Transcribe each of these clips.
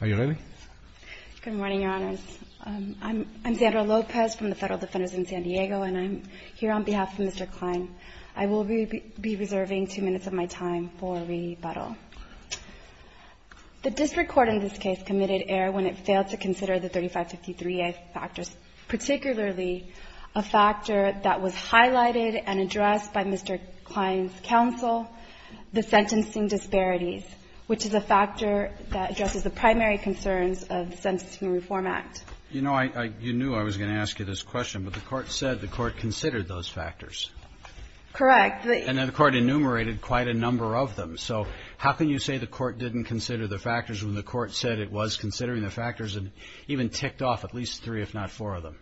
Good morning, Your Honors. I'm Zandra Lopez from the Federal Defenders in San Diego, and I'm here on behalf of Mr. Cline. I will be reserving two minutes of my time for rebuttal. The district court in this case committed error when it failed to consider the 3553A factors, particularly a factor that was highlighted and addressed by Mr. Cline's counsel, the primary concerns of the Sentencing and Reform Act. CHIEF JUSTICE ROBERTS You know, you knew I was going to ask you this question, but the Court said the Court considered those factors. ZANDRA LOPEZ Correct. CHIEF JUSTICE ROBERTS And then the Court enumerated quite a number of them. So how can you say the Court didn't consider the factors when the Court said it was considering the factors and even ticked off at least three, if not four, of them?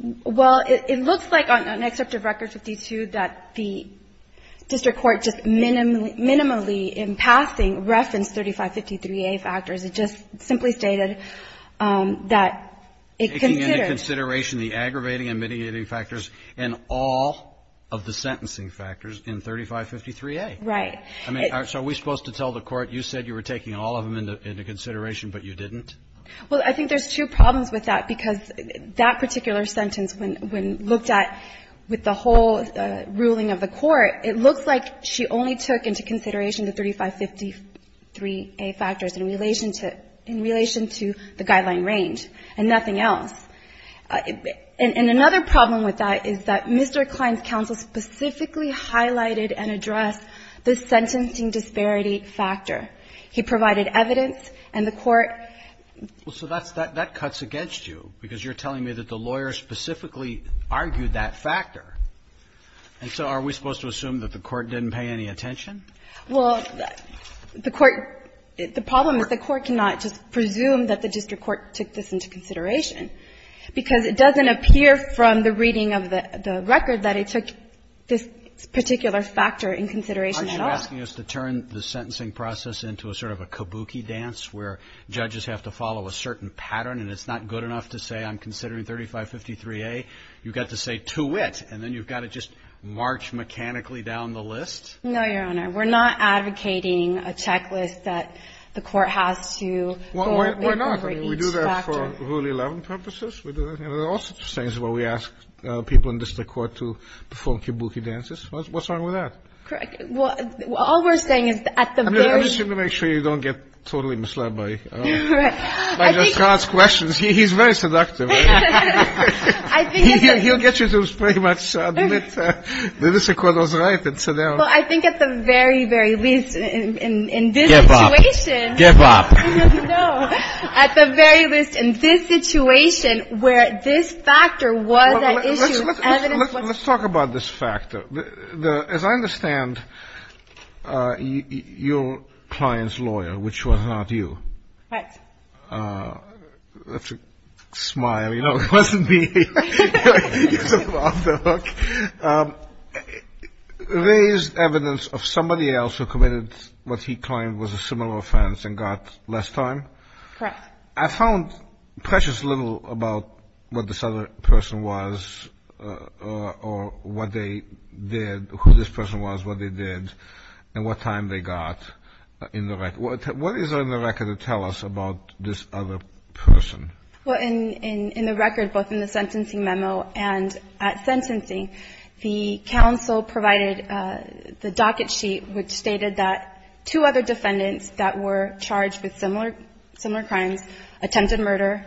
ZANDRA LOPEZ Well, it looks like on an excerpt of Record 52 that the district court just minimally, in passing, referenced 3553A factors. It just simply stated that CHIEF JUSTICE ROBERTS Taking into consideration the aggravating and mitigating factors in all of the sentencing factors in 3553A. ZANDRA LOPEZ Right. CHIEF JUSTICE ROBERTS I mean, so are we supposed to tell the Court, you said you were taking all of them into consideration, but you didn't? ZANDRA LOPEZ Well, I think there's two problems with that, because that particular sentence, when looked at with the whole ruling of the Court, it looks like she only took into consideration the 3553A factors in relation to the guideline range and nothing else. And another problem with that is that Mr. Klein's counsel specifically highlighted and addressed the sentencing disparity factor. He provided evidence, and the Court CHIEF JUSTICE ROBERTS Well, so that cuts against you, because you're telling me that the lawyer specifically argued that factor. And so are we supposed to assume that the Court didn't pay any attention? ZANDRA LOPEZ Well, the Court – the problem is the Court cannot just presume that the district court took this into consideration, because it doesn't appear from the reading of the record that it took this particular factor in consideration at all. CHIEF JUSTICE ROBERTS Aren't you asking us to turn the sentencing process into a sort of a kabuki dance where judges have to follow a certain pattern and it's not good enough to say, I'm considering 3553A, you've got to say to it, and then you've got to just march mechanically down the list? ZANDRA LOPEZ No, Your Honor. We're not advocating a checklist that the Court has CHIEF JUSTICE ROBERTS Well, why not? I mean, we do that for Rule 11 purposes. We do that for all sorts of things where we ask people in district court to perform kabuki dances. What's wrong with that? ZANDRA LOPEZ Correct. Well, all we're saying is that at the very – CHIEF JUSTICE ROBERTS I'm just trying to make sure you don't get totally misled by ZANDRA LOPEZ Right. CHIEF JUSTICE ROBERTS He's very seductive. He'll get you to pretty much admit that this Court was right and so now – ZANDRA LOPEZ Well, I think at the very, very least in this situation – CHIEF JUSTICE ROBERTS Give up. Give up. ZANDRA LOPEZ No. At the very least in this situation where this factor was at issue – CHIEF JUSTICE ROBERTS Well, let's talk about this factor. As I understand, your client's lawyer, which was not you – ZANDRA LOPEZ Right. CHIEF JUSTICE ROBERTS – let's just smile. You know, it wasn't me. You're sort of off the hook. Raised evidence of somebody else who committed what he claimed was a similar offense and ZANDRA LOPEZ Correct. CHIEF JUSTICE ROBERTS I found precious little about what this other person was or what they did, who this person was, what they did and what time they got in the record. What is in the record to tell us about this other person? ZANDRA LOPEZ Well, in the record, both in the sentencing memo and at sentencing, the counsel provided the docket sheet which stated that two other defendants that were charged with similar crimes attempted murder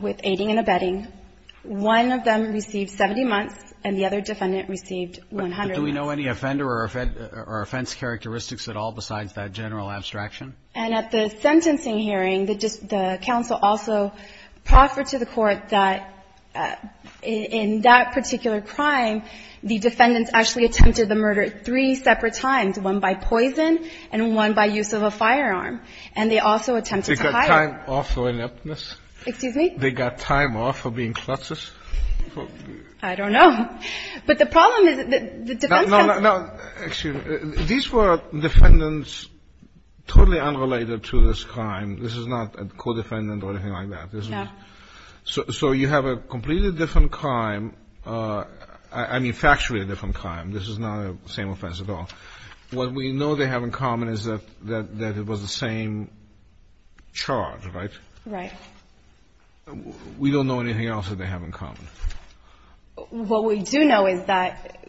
with aiding and abetting. One of them received 70 months and the other defendant received 100 months. CHIEF JUSTICE ROBERTS Do we know any offender or offense characteristics at all besides that general abstraction? ZANDRA LOPEZ And at the sentencing hearing, the counsel also proffered to the court that in that particular crime, the defendants actually attempted the murder three separate times, one by poison and one by use of a firearm. And they also attempted to hide. CHIEF JUSTICE ROBERTS They got time off for ineptness? ZANDRA LOPEZ Excuse me? CHIEF JUSTICE ROBERTS They got time off for being klutzes? ZANDRA LOPEZ I don't know. But the problem is that the defense counsel CHIEF JUSTICE ROBERTS Well, now, excuse me. These were defendants totally unrelated to this crime. This is not a co-defendant or anything like that. ZANDRA LOPEZ No. CHIEF JUSTICE ROBERTS So you have a completely different crime. I mean, factually a different crime. This is not the same offense at all. What we know they have in common is that it was the same charge, right? ZANDRA LOPEZ Right. CHIEF JUSTICE ROBERTS We don't know anything else that they have in common. ZANDRA LOPEZ What we do know is that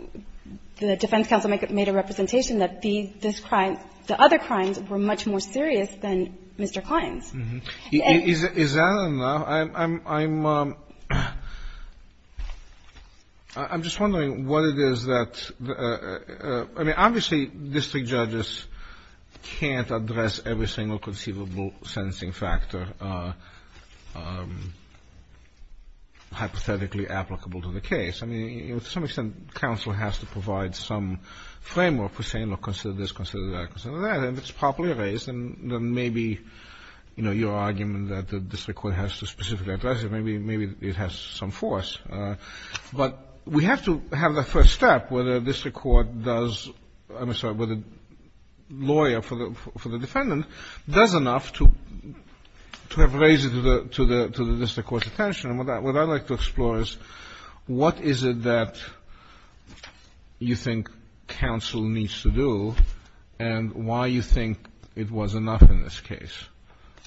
the defense counsel made a representation that this crime, the other crimes were much more serious than Mr. Klein's. CHIEF JUSTICE ROBERTS Is that enough? I'm just wondering what it is that the – I mean, obviously, district judges can't address every single conceivable sentencing factor hypothetically applicable to the case. I mean, to some extent, counsel has to provide some framework for saying, look, consider this, consider that, consider that. And if it's properly raised, then maybe your argument that the district court has to specifically address it, maybe it has some force. But we have to have the first step, whether district court does – I'm sorry, whether the lawyer for the defendant does enough to have raised it to the district court's attention. And what I'd like to explore is what is it that you think counsel needs to do and why you think it was enough in this case.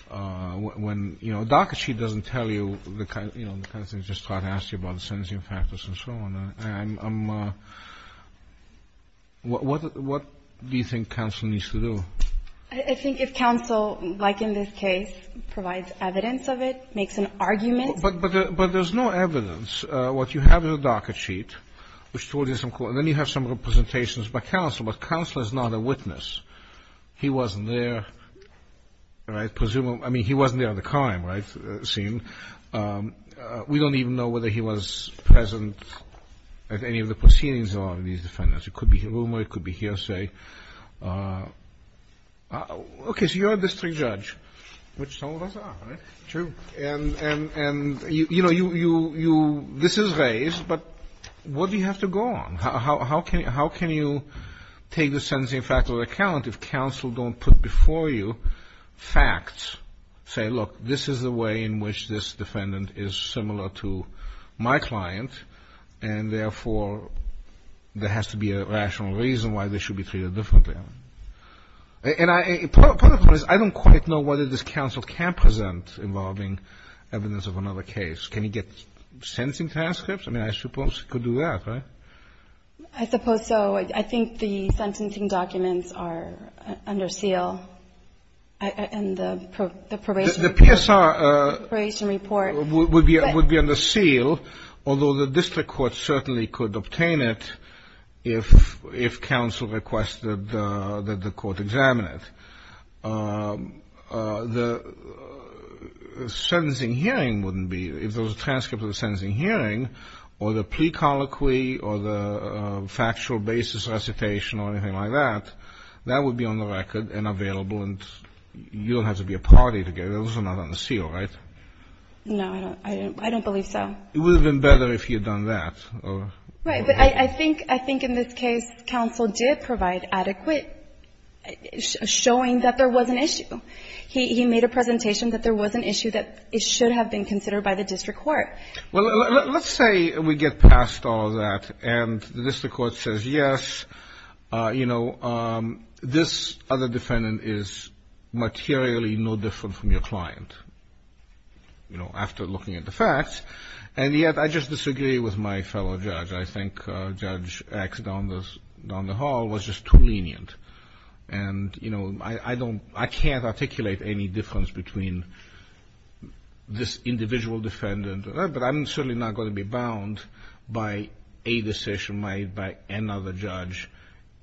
When, you know, a docket sheet doesn't tell you the kind of – you know, what do you think counsel needs to do? I think if counsel, like in this case, provides evidence of it, makes an argument. But there's no evidence. What you have is a docket sheet, which told you some – and then you have some representations by counsel. But counsel is not a witness. He wasn't there, right? Presumably – I mean, he wasn't there at the crime scene. We don't even know whether he was present at any of the proceedings of these defendants. It could be a rumor. It could be hearsay. Okay, so you're a district judge, which some of us are, right? True. And, you know, this is raised, but what do you have to go on? How can you take the sentencing factor into account if counsel don't put before you facts, say, look, this is the way in which this defendant is similar to my client, and therefore there has to be a rational reason why they should be treated differently? And part of the problem is I don't quite know whether this counsel can present involving evidence of another case. Can he get sentencing transcripts? I mean, I suppose he could do that, right? I suppose so. I think the sentencing documents are under seal. And the probation report? The PSR would be under seal, although the district court certainly could obtain it if counsel requested that the court examine it. The sentencing hearing wouldn't be. If there was a transcript of the sentencing hearing or the pre-colloquy or the factual basis recitation or anything like that, that would be on the record and available, and you don't have to be a party to get it. Those are not under seal, right? No, I don't believe so. It would have been better if you had done that. Right. But I think in this case counsel did provide adequate showing that there was an issue. He made a presentation that there was an issue that should have been considered by the district court. Well, let's say we get past all that and the district court says, yes, you know, this other defendant is materially no different from your client, you know, after looking at the facts. And yet I just disagree with my fellow judge. I think Judge X down the hall was just too lenient. And, you know, I don't ‑‑ I can't articulate any difference between this individual defendant, but I'm certainly not going to be bound by a decision made by another judge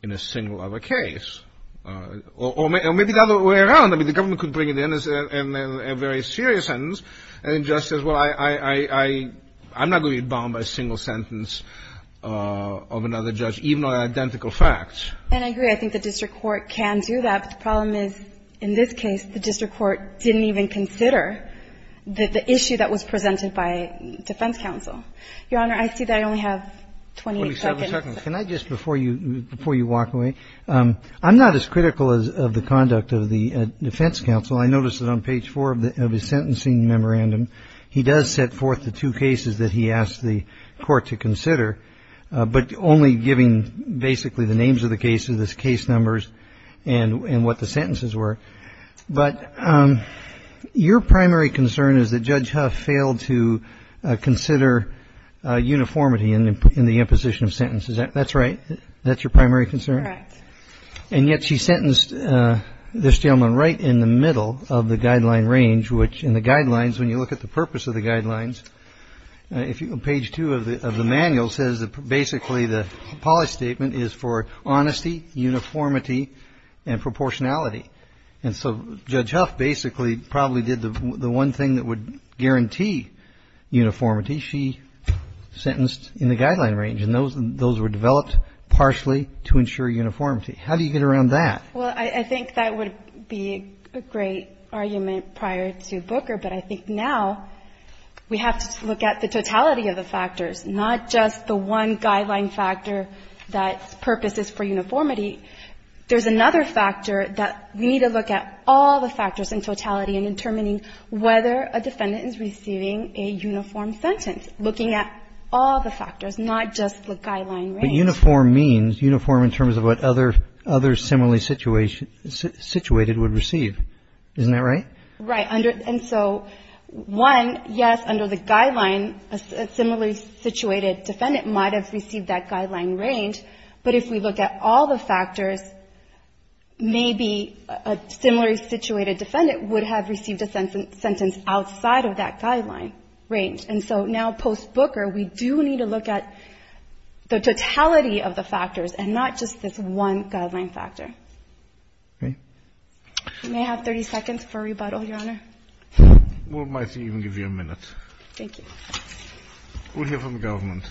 in a single other case. Or maybe the other way around. I mean, the government could bring it in as a very serious sentence, and the judge says, well, I'm not going to be bound by a single sentence of another judge, even on identical facts. And I agree. I think the district court can do that. But the problem is, in this case, the district court didn't even consider the issue that was presented by defense counsel. Your Honor, I see that I only have 20 seconds. Can I just, before you walk away, I'm not as critical of the conduct of the defense counsel. I notice that on page 4 of his sentencing memorandum, he does set forth the two cases that he asked the court to consider, but only giving basically the names of the cases, the case numbers, and what the sentences were. But your primary concern is that Judge Huff failed to consider uniformity in the imposition of sentences. That's right? That's your primary concern? Correct. And yet she sentenced this gentleman right in the middle of the guideline range, which in the guidelines, when you look at the purpose of the guidelines, page 2 of the manual says basically the policy statement is for honesty, uniformity, and proportionality. And so Judge Huff basically probably did the one thing that would guarantee uniformity. She sentenced in the guideline range. And those were developed partially to ensure uniformity. How do you get around that? Well, I think that would be a great argument prior to Booker. But I think now we have to look at the totality of the factors, not just the one guideline factor that's purpose is for uniformity. There's another factor that we need to look at all the factors in totality in determining whether a defendant is receiving a uniform sentence, looking at all the factors, not just the guideline range. But uniform means uniform in terms of what others similarly situated would receive. Isn't that right? Right. And so, one, yes, under the guideline, a similarly situated defendant might have received that guideline range. But if we look at all the factors, maybe a similarly situated defendant would have received a sentence outside of that guideline range. And so now post-Booker, we do need to look at the totality of the factors and not just this one guideline factor. Okay. You may have 30 seconds for rebuttal, Your Honor. We might even give you a minute. Thank you. We'll hear from the government.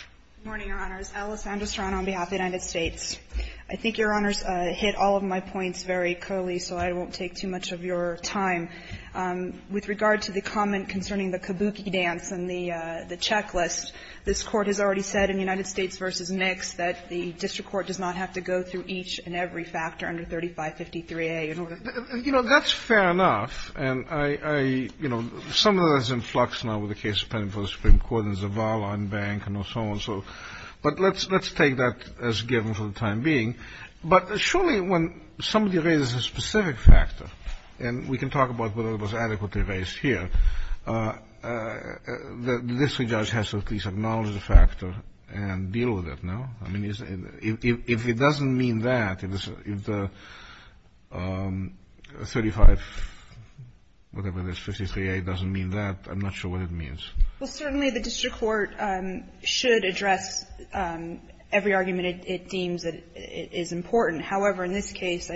Good morning, Your Honors. Alice Anderstrand on behalf of the United States. I think Your Honors hit all of my points very clearly, so I won't take too much of your time. With regard to the comment concerning the kabuki dance and the checklist, this Court has already said in United States v. Mix that the district court does not have to go through each and every factor under 3553A. You know, that's fair enough. And I, you know, some of that is in flux now with the case pending for the Supreme Court and Zavala and Bank and so on. But let's take that as given for the time being. But surely when somebody raises a specific factor, and we can talk about whether it was adequately raised here, the district judge has to at least acknowledge the factor and deal with it, no? I mean, if it doesn't mean that, if the 35, whatever it is, 53A doesn't mean that, I'm not sure what it means. Well, certainly the district court should address every argument it deems that is important. However, in this case,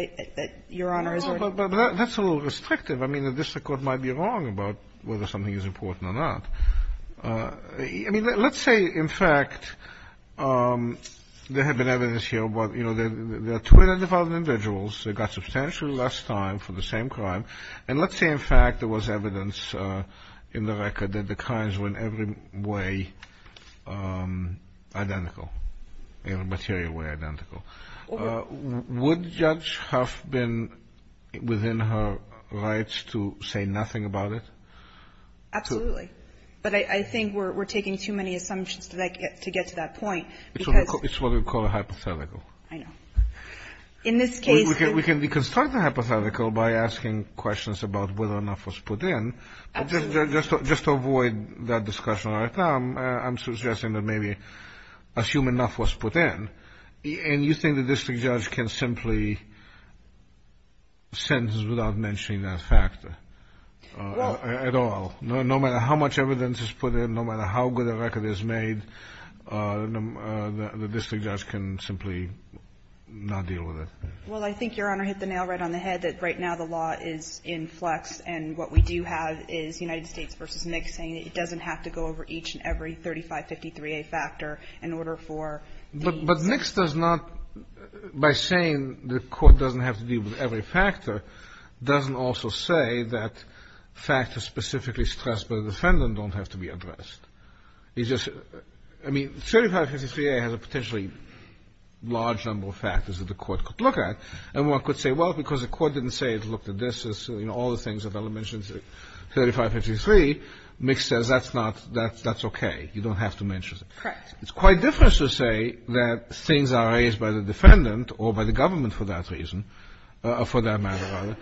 Your Honors, we're going to go through it. No, but that's a little restrictive. I mean, the district court might be wrong about whether something is important or not. I mean, let's say, in fact, there had been evidence here about, you know, there are 200,000 individuals that got substantially less time for the same crime. And let's say, in fact, there was evidence in the record that the crimes were in every way identical, in a material way identical. Would the judge have been within her rights to say nothing about it? Absolutely. But I think we're taking too many assumptions to get to that point. It's what we call a hypothetical. I know. In this case, we can start the hypothetical by asking questions about whether enough was put in. Absolutely. Just to avoid that discussion right now, I'm suggesting that maybe assume enough was put in. And you think the district judge can simply sentence without mentioning that factor at all? No. No matter how much evidence is put in, no matter how good a record is made, the district judge can simply not deal with it. Well, I think, Your Honor, hit the nail right on the head that right now the law is in flux. And what we do have is United States v. NIC saying it doesn't have to go over each and every 3553A factor in order for these. But NIC does not, by saying the court doesn't have to deal with every factor, doesn't also say that factors specifically stressed by the defendant don't have to be addressed. It's just, I mean, 3553A has a potentially large number of factors that the court could look at. And one could say, well, because the court didn't say it looked at this, you know, all the things that Ella mentioned, 3553, NIC says that's not, that's okay. You don't have to mention it. Correct. It's quite different to say that things are raised by the defendant or by the government for that reason, for that matter, rather,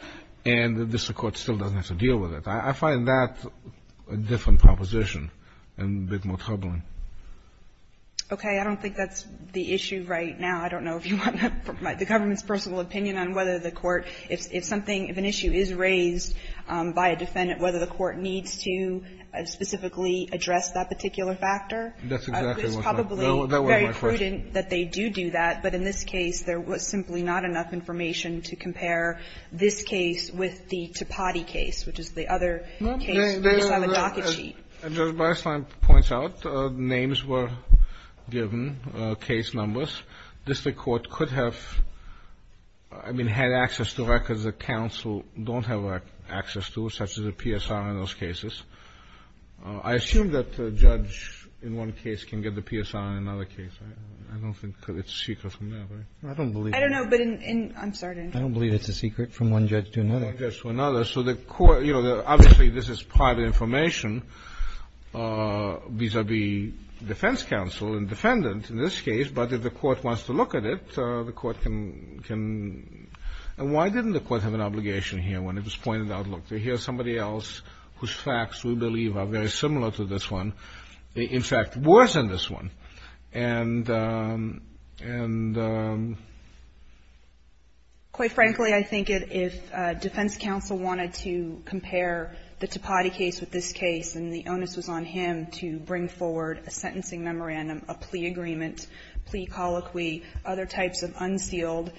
and the district court still doesn't have to deal with it. I find that a different proposition and a bit more troubling. Okay. I don't think that's the issue right now. I don't know if you want the government's personal opinion on whether the court, if something, if an issue is raised by a defendant, whether the court needs to specifically address that particular factor. That's exactly what's up. It's probably very prudent that they do do that, but in this case, there was simply not enough information to compare this case with the Tapati case, which is the other case. We just have a docket sheet. Judge Beistlein points out names were given, case numbers. District court could have, I mean, had access to records that counsel don't have access to, such as a PSR in those cases. I assume that the judge in one case can get the PSR in another case. I don't think it's secret from that, right? I don't believe it. I don't know, but in — I'm sorry. I don't believe it's a secret from one judge to another. One judge to another. So the court, you know, obviously this is private information vis-à-vis defense counsel and defendant in this case, but if the court wants to look at it, the court can — and why didn't the court have an obligation here when it was pointed out, look, here's somebody else whose facts we believe are very similar to this one, in fact worse than this one, and — Quite frankly, I think if defense counsel wanted to compare the Tapati case with this case, and the onus was on him to bring forward a sentencing memorandum, a plea agreement, plea colloquy, other types of unsealed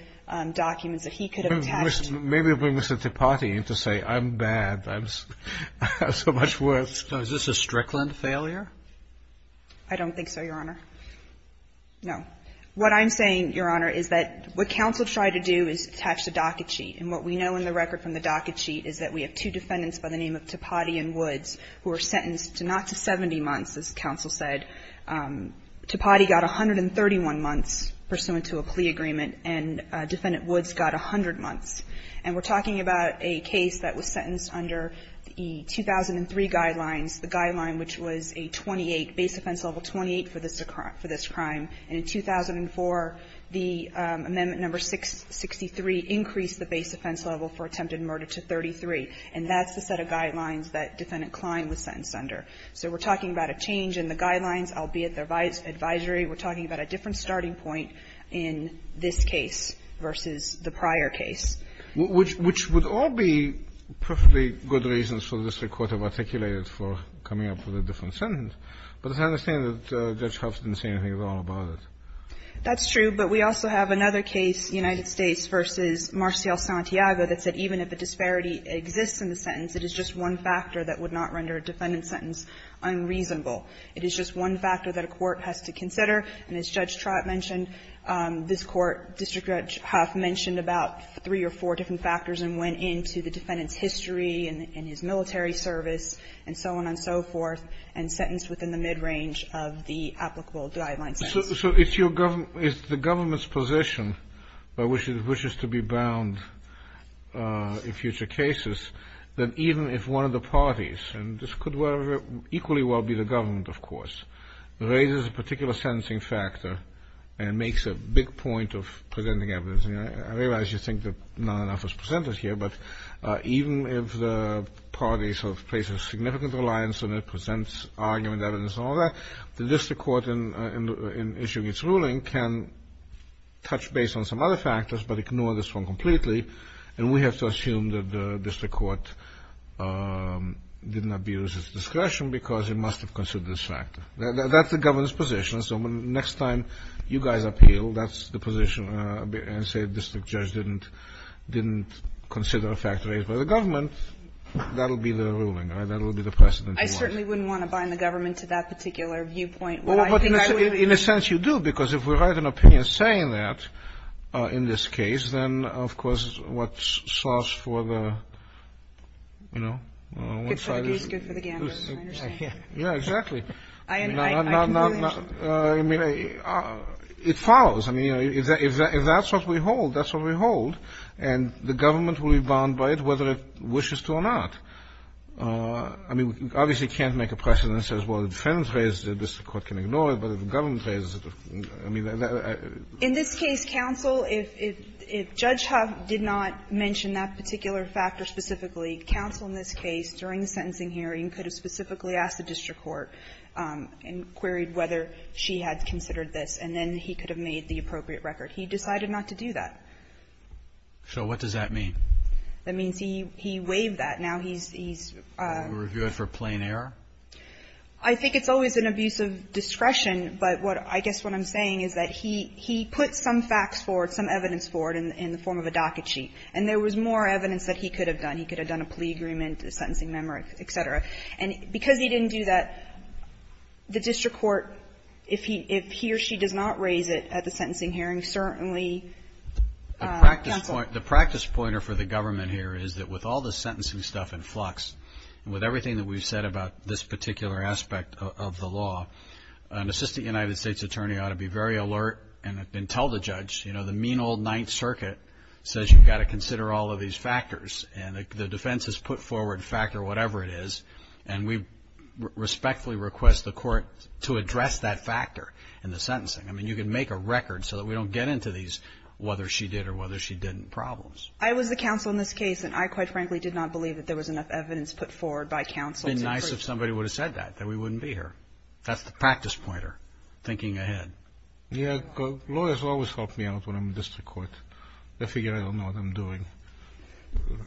documents that he could have attached. Maybe it would have been Mr. Tapati to say, I'm bad. I'm so much worse. So is this a Strickland failure? I don't think so, Your Honor. No. What I'm saying, Your Honor, is that what counsel tried to do is attach the docket sheet, and what we know in the record from the docket sheet is that we have two defendants by the name of Tapati and Woods who were sentenced to not to 70 months, as counsel said. Tapati got 131 months pursuant to a plea agreement, and Defendant Woods got 100 months. And we're talking about a case that was sentenced under the 2003 guidelines, the guideline which was a 28, base offense level 28 for this crime. And in 2004, the amendment number 663 increased the base offense level for attempted murder to 33. And that's the set of guidelines that Defendant Klein was sentenced under. So we're talking about a change in the guidelines, albeit the advisory. We're talking about a different starting point in this case versus the prior case. Which would all be perfectly good reasons for the district court to articulate it for coming up with a different sentence. But as I understand it, Judge Hoft didn't say anything at all about it. That's true. But we also have another case, United States v. Marcial Santiago, that said even if a disparity exists in the sentence, it is just one factor that would not render a defendant sentence unreasonable. It is just one factor that a court has to consider. And as Judge Trott mentioned, this Court, District Judge Hoft mentioned about three or four different factors and went into the defendant's history and his military service and so on and so forth, and sentenced within the midrange of the applicable guideline sentence. So it's the government's position, which is to be bound in future cases, that even if one of the parties, and this could equally well be the government, of course, raises a particular sentencing factor and makes a big point of presenting evidence. I realize you think that not enough is presented here, but even if the parties have placed a significant reliance on it, presents argument, evidence, and all that, the district court, in issuing its ruling, can touch base on some other factors but ignore this one completely. And we have to assume that the district court didn't abuse its discretion because it must have considered this factor. That's the government's position. So the next time you guys appeal, that's the position, and say the district judge didn't consider a factor raised by the government, that will be the ruling. That will be the precedent. I certainly wouldn't want to bind the government to that particular viewpoint. What I think I would do is to do that. But in a sense you do, because if we write an opinion saying that, in this case, then, of course, what's sauce for the, you know, one side is. Good for the goose, good for the gambler, I understand. Yeah, exactly. I can do that. I mean, it follows. I mean, if that's what we hold, that's what we hold. And the government will be bound by it whether it wishes to or not. I mean, we obviously can't make a precedent that says, well, if the defendant raises it, the district court can ignore it, but if the government raises it, I mean, I don't know. In this case, counsel, if Judge Huff did not mention that particular factor specifically, counsel in this case, during the sentencing hearing, could have specifically asked the district court and queried whether she had considered this, and then he could have made the appropriate record. He decided not to do that. So what does that mean? That means he waived that. Now he's he's Review it for plain error? I think it's always an abuse of discretion. But what I guess what I'm saying is that he he put some facts forward, some evidence forward in the form of a docket sheet. And there was more evidence that he could have done. He could have done a plea agreement, a sentencing memo, et cetera. And because he didn't do that, the district court, if he if he or she does not raise it at the sentencing hearing, certainly, counsel The practice pointer for the government here is that with all the sentencing stuff in flux, with everything that we've said about this particular aspect of the law, an assistant United States attorney ought to be very alert and tell the judge, you know, the mean old Ninth Circuit says you've got to consider all of these factors. And the defense has put forward factor whatever it is. And we respectfully request the court to address that factor in the sentencing. I mean, you can make a record so that we don't get into these whether she did or whether she didn't problems. I was the counsel in this case. And I, quite frankly, did not believe that there was enough evidence put forward by counsel. It would have been nice if somebody would have said that, that we wouldn't be here. That's the practice pointer, thinking ahead. Yeah. Lawyers always help me out when I'm in district court. They figure I don't know what I'm doing.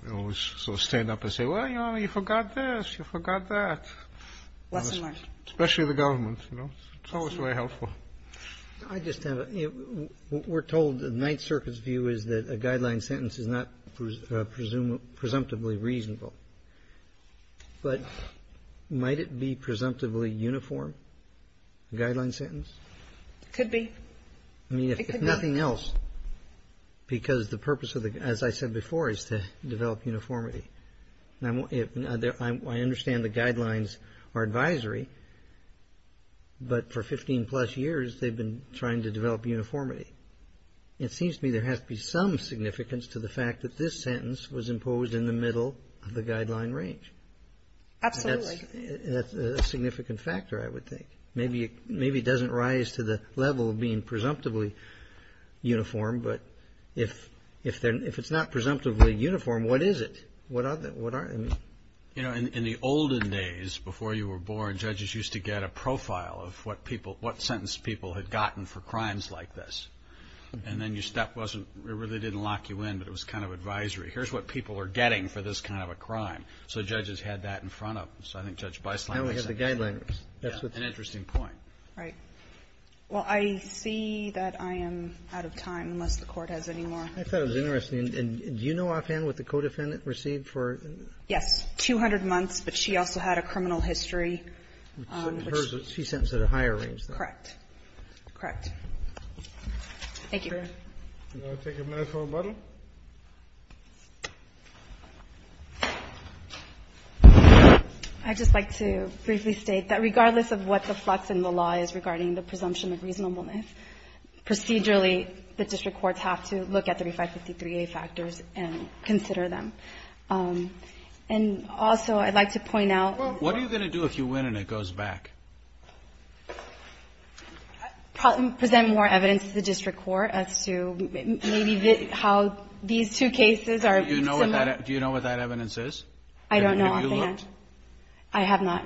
They always sort of stand up and say, well, you know, you forgot this. You forgot that. Lesson learned. Especially the government, you know. It's always very helpful. I just have a, we're told the Ninth Circuit's view is that a guideline sentence is not presumptively reasonable. But might it be presumptively uniform, a guideline sentence? Could be. I mean, if nothing else, because the purpose of the, as I said before, is to develop uniformity. I understand the guidelines are advisory, but for 15 plus years, they've been trying to develop uniformity. It seems to me there has to be some significance to the fact that this sentence was imposed in the middle of the guideline range. Absolutely. That's a significant factor, I would think. Maybe it doesn't rise to the level of being presumptively uniform, but if it's not In the olden days, before you were born, judges used to get a profile of what people, what sentence people had gotten for crimes like this. And then your step wasn't, it really didn't lock you in, but it was kind of advisory. Here's what people are getting for this kind of a crime. So judges had that in front of them. So I think Judge Beisling was saying. Now we have the guidelines. That's an interesting point. Right. Well, I see that I am out of time, unless the Court has any more. I thought it was interesting. Do you know offhand what the co-defendant received for? Yes. Two hundred months, but she also had a criminal history. She's sentenced at a higher range. Correct. Correct. Thank you, Your Honor. Can I take a minute for rebuttal? I'd just like to briefly state that regardless of what the flux in the law is regarding the presumption of reasonableness, procedurally, the district courts have to look at 3553A factors and consider them. And also, I'd like to point out. What are you going to do if you win and it goes back? Present more evidence to the district court as to maybe how these two cases are similar. Do you know what that evidence is? I don't know offhand. Have you looked? I have not.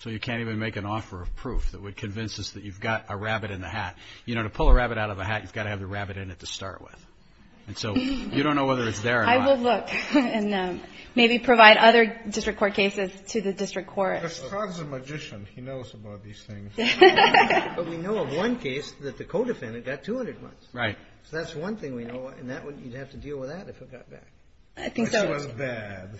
So you can't even make an offer of proof that would convince us that you've got a rabbit in the hat. You know, to pull a rabbit out of a hat, you've got to have the rabbit in it to start with. And so you don't know whether it's there or not. I will look and maybe provide other district court cases to the district court. Mr. Todd's a magician. He knows about these things. But we know of one case that the co-defendant got 200 months. Right. So that's one thing we know. And that one, you'd have to deal with that if it got back. I think so. But she was bad.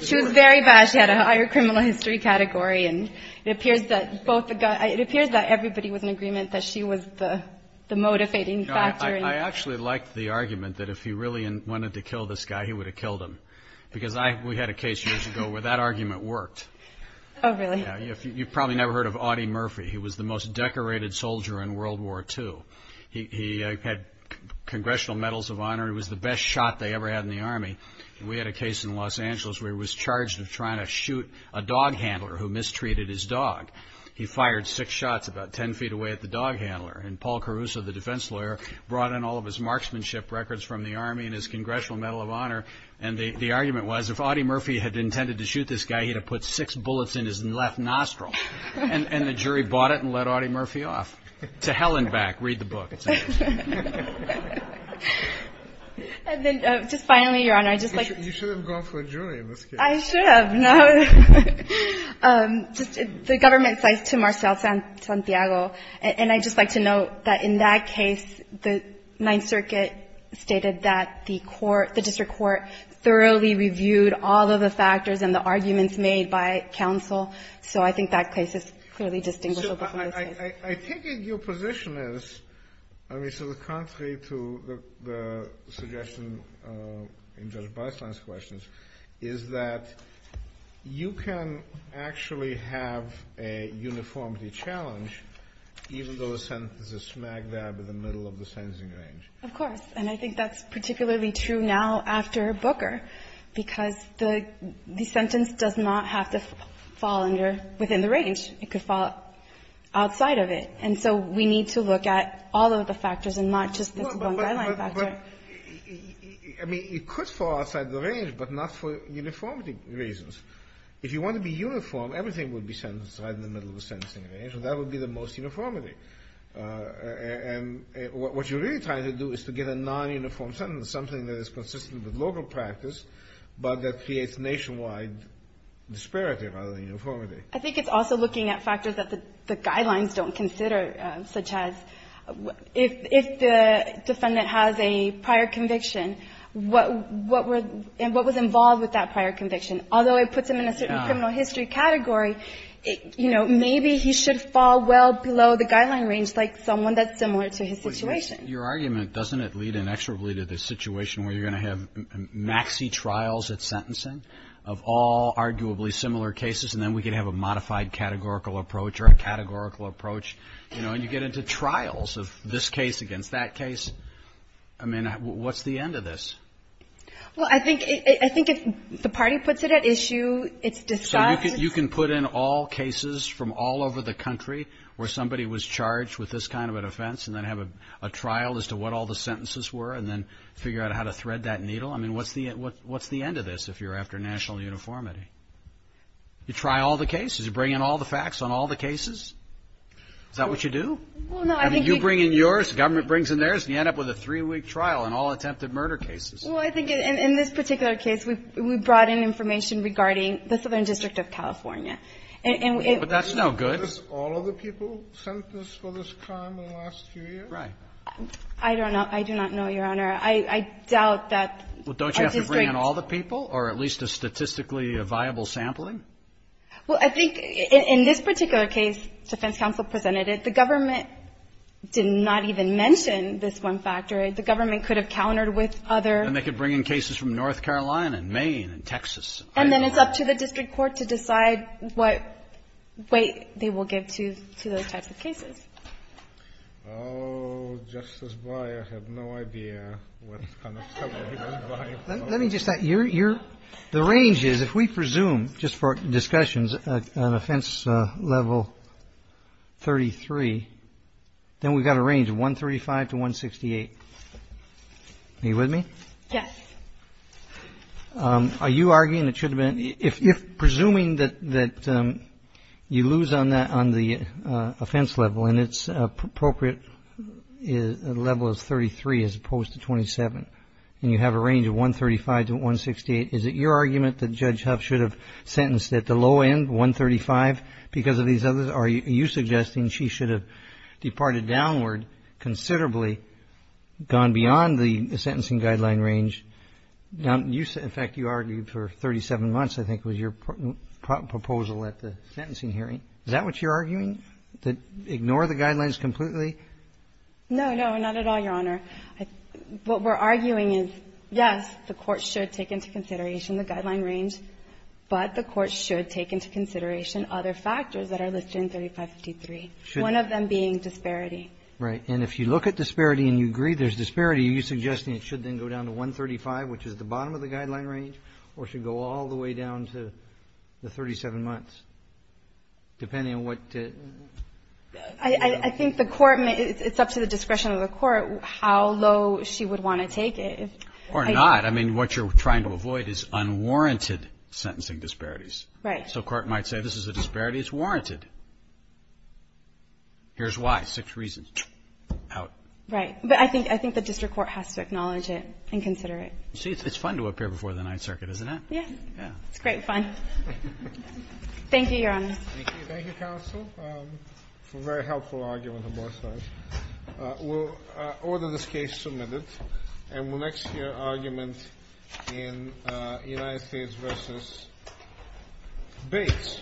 She was very bad. She had a higher criminal history category. And it appears that everybody was in agreement that she was the motivating factor. I actually like the argument that if he really wanted to kill this guy, he would have killed him. Because we had a case years ago where that argument worked. Oh, really? You've probably never heard of Audie Murphy. He was the most decorated soldier in World War II. He had congressional medals of honor. He was the best shot they ever had in the Army. We had a case in Los Angeles where he was charged with trying to shoot a dog handler who mistreated his dog. He fired six shots about ten feet away at the dog handler. And Paul Caruso, the defense lawyer, brought in all of his marksmanship records from the Army and his congressional medal of honor. And the argument was if Audie Murphy had intended to shoot this guy, he'd have put six bullets in his left nostril. And the jury bought it and let Audie Murphy off. To hell and back. Read the book. And then just finally, Your Honor, I'd just like to... You should have gone for a jury in this case. I should have, no? Just the government cites to Marcial Santiago. And I'd just like to note that in that case, the Ninth Circuit stated that the court the district court thoroughly reviewed all of the factors and the arguments made by counsel. So I think that case is clearly distinguished. I think your position is, I mean, to the contrary to the suggestion in Judge Beisland's questions, is that you can actually have a uniformity challenge even though the sentence is a smack dab in the middle of the sentencing range. Of course. And I think that's particularly true now after Booker, because the sentence does not have to fall under within the range. It could fall outside of it. And so we need to look at all of the factors and not just this one guideline factor. I mean, it could fall outside the range, but not for uniformity reasons. If you want to be uniform, everything would be sentenced right in the middle of the sentencing range, and that would be the most uniformity. And what you're really trying to do is to get a non-uniform sentence, something that is consistent with local practice, but that creates nationwide disparity rather than uniformity. I think it's also looking at factors that the guidelines don't consider, such as if the defendant has a prior conviction, what was involved with that prior conviction. Although it puts him in a certain criminal history category, you know, maybe he should fall well below the guideline range, like someone that's similar to his situation. Your argument, doesn't it lead inexorably to the situation where you're going to have maxi-trials at sentencing of all arguably similar cases, and then we could have a modified categorical approach or a categorical approach, you know, and you get into trials of this case against that case. I mean, what's the end of this? Well, I think if the party puts it at issue, it's discussed. So you can put in all cases from all over the country where somebody was charged with this kind of an offense and then have a trial as to what all the sentences were and then what's the end of this if you're after national uniformity? You try all the cases. You bring in all the facts on all the cases? Is that what you do? I mean, you bring in yours, the government brings in theirs, and you end up with a three-week trial on all attempted murder cases. Well, I think in this particular case, we brought in information regarding the Southern District of California. And it was not. But that's no good. All of the people sentenced for this crime in the last few years? Right. I don't know. I do not know, Your Honor. I doubt that a district. Well, don't you have to bring in all the people or at least a statistically viable sampling? Well, I think in this particular case, defense counsel presented it. The government did not even mention this one factor. The government could have countered with other. And they could bring in cases from North Carolina and Maine and Texas. And then it's up to the district court to decide what weight they will give to those types of cases. Oh, Justice Breyer had no idea what kind of stuff he was buying. Let me just add, the range is, if we presume, just for discussions, an offense level 33, then we've got a range of 135 to 168. Are you with me? Yes. Are you arguing it should have been? If presuming that you lose on the offense level and it's appropriate level is 33 as opposed to 27, and you have a range of 135 to 168, is it your argument that Judge Huff should have sentenced at the low end, 135, because of these others? Are you suggesting she should have departed downward considerably, gone beyond the sentencing guideline range? In fact, you argued for 37 months, I think, was your proposal at the sentencing hearing. Is that what you're arguing, to ignore the guidelines completely? No, no, not at all, Your Honor. What we're arguing is, yes, the Court should take into consideration the guideline range, but the Court should take into consideration other factors that are listed in 3553, one of them being disparity. Right. And if you look at disparity and you agree there's disparity, are you suggesting it should then go down to 135, which is the bottom of the guideline range, or should go all the way down to the 37 months, depending on what? I think the Court may, it's up to the discretion of the Court how low she would want to take it. Or not. I mean, what you're trying to avoid is unwarranted sentencing disparities. Right. So Court might say this is a disparity, it's warranted. Here's why, six reasons. Out. Right. But I think the District Court has to acknowledge it and consider it. See, it's fun to appear before the Ninth Circuit, isn't it? Yeah. Yeah. It's great fun. Thank you, Your Honor. Thank you. Thank you, counsel, for a very helpful argument on both sides. We'll order this case submitted, and we'll next hear argument in United States v. Bates.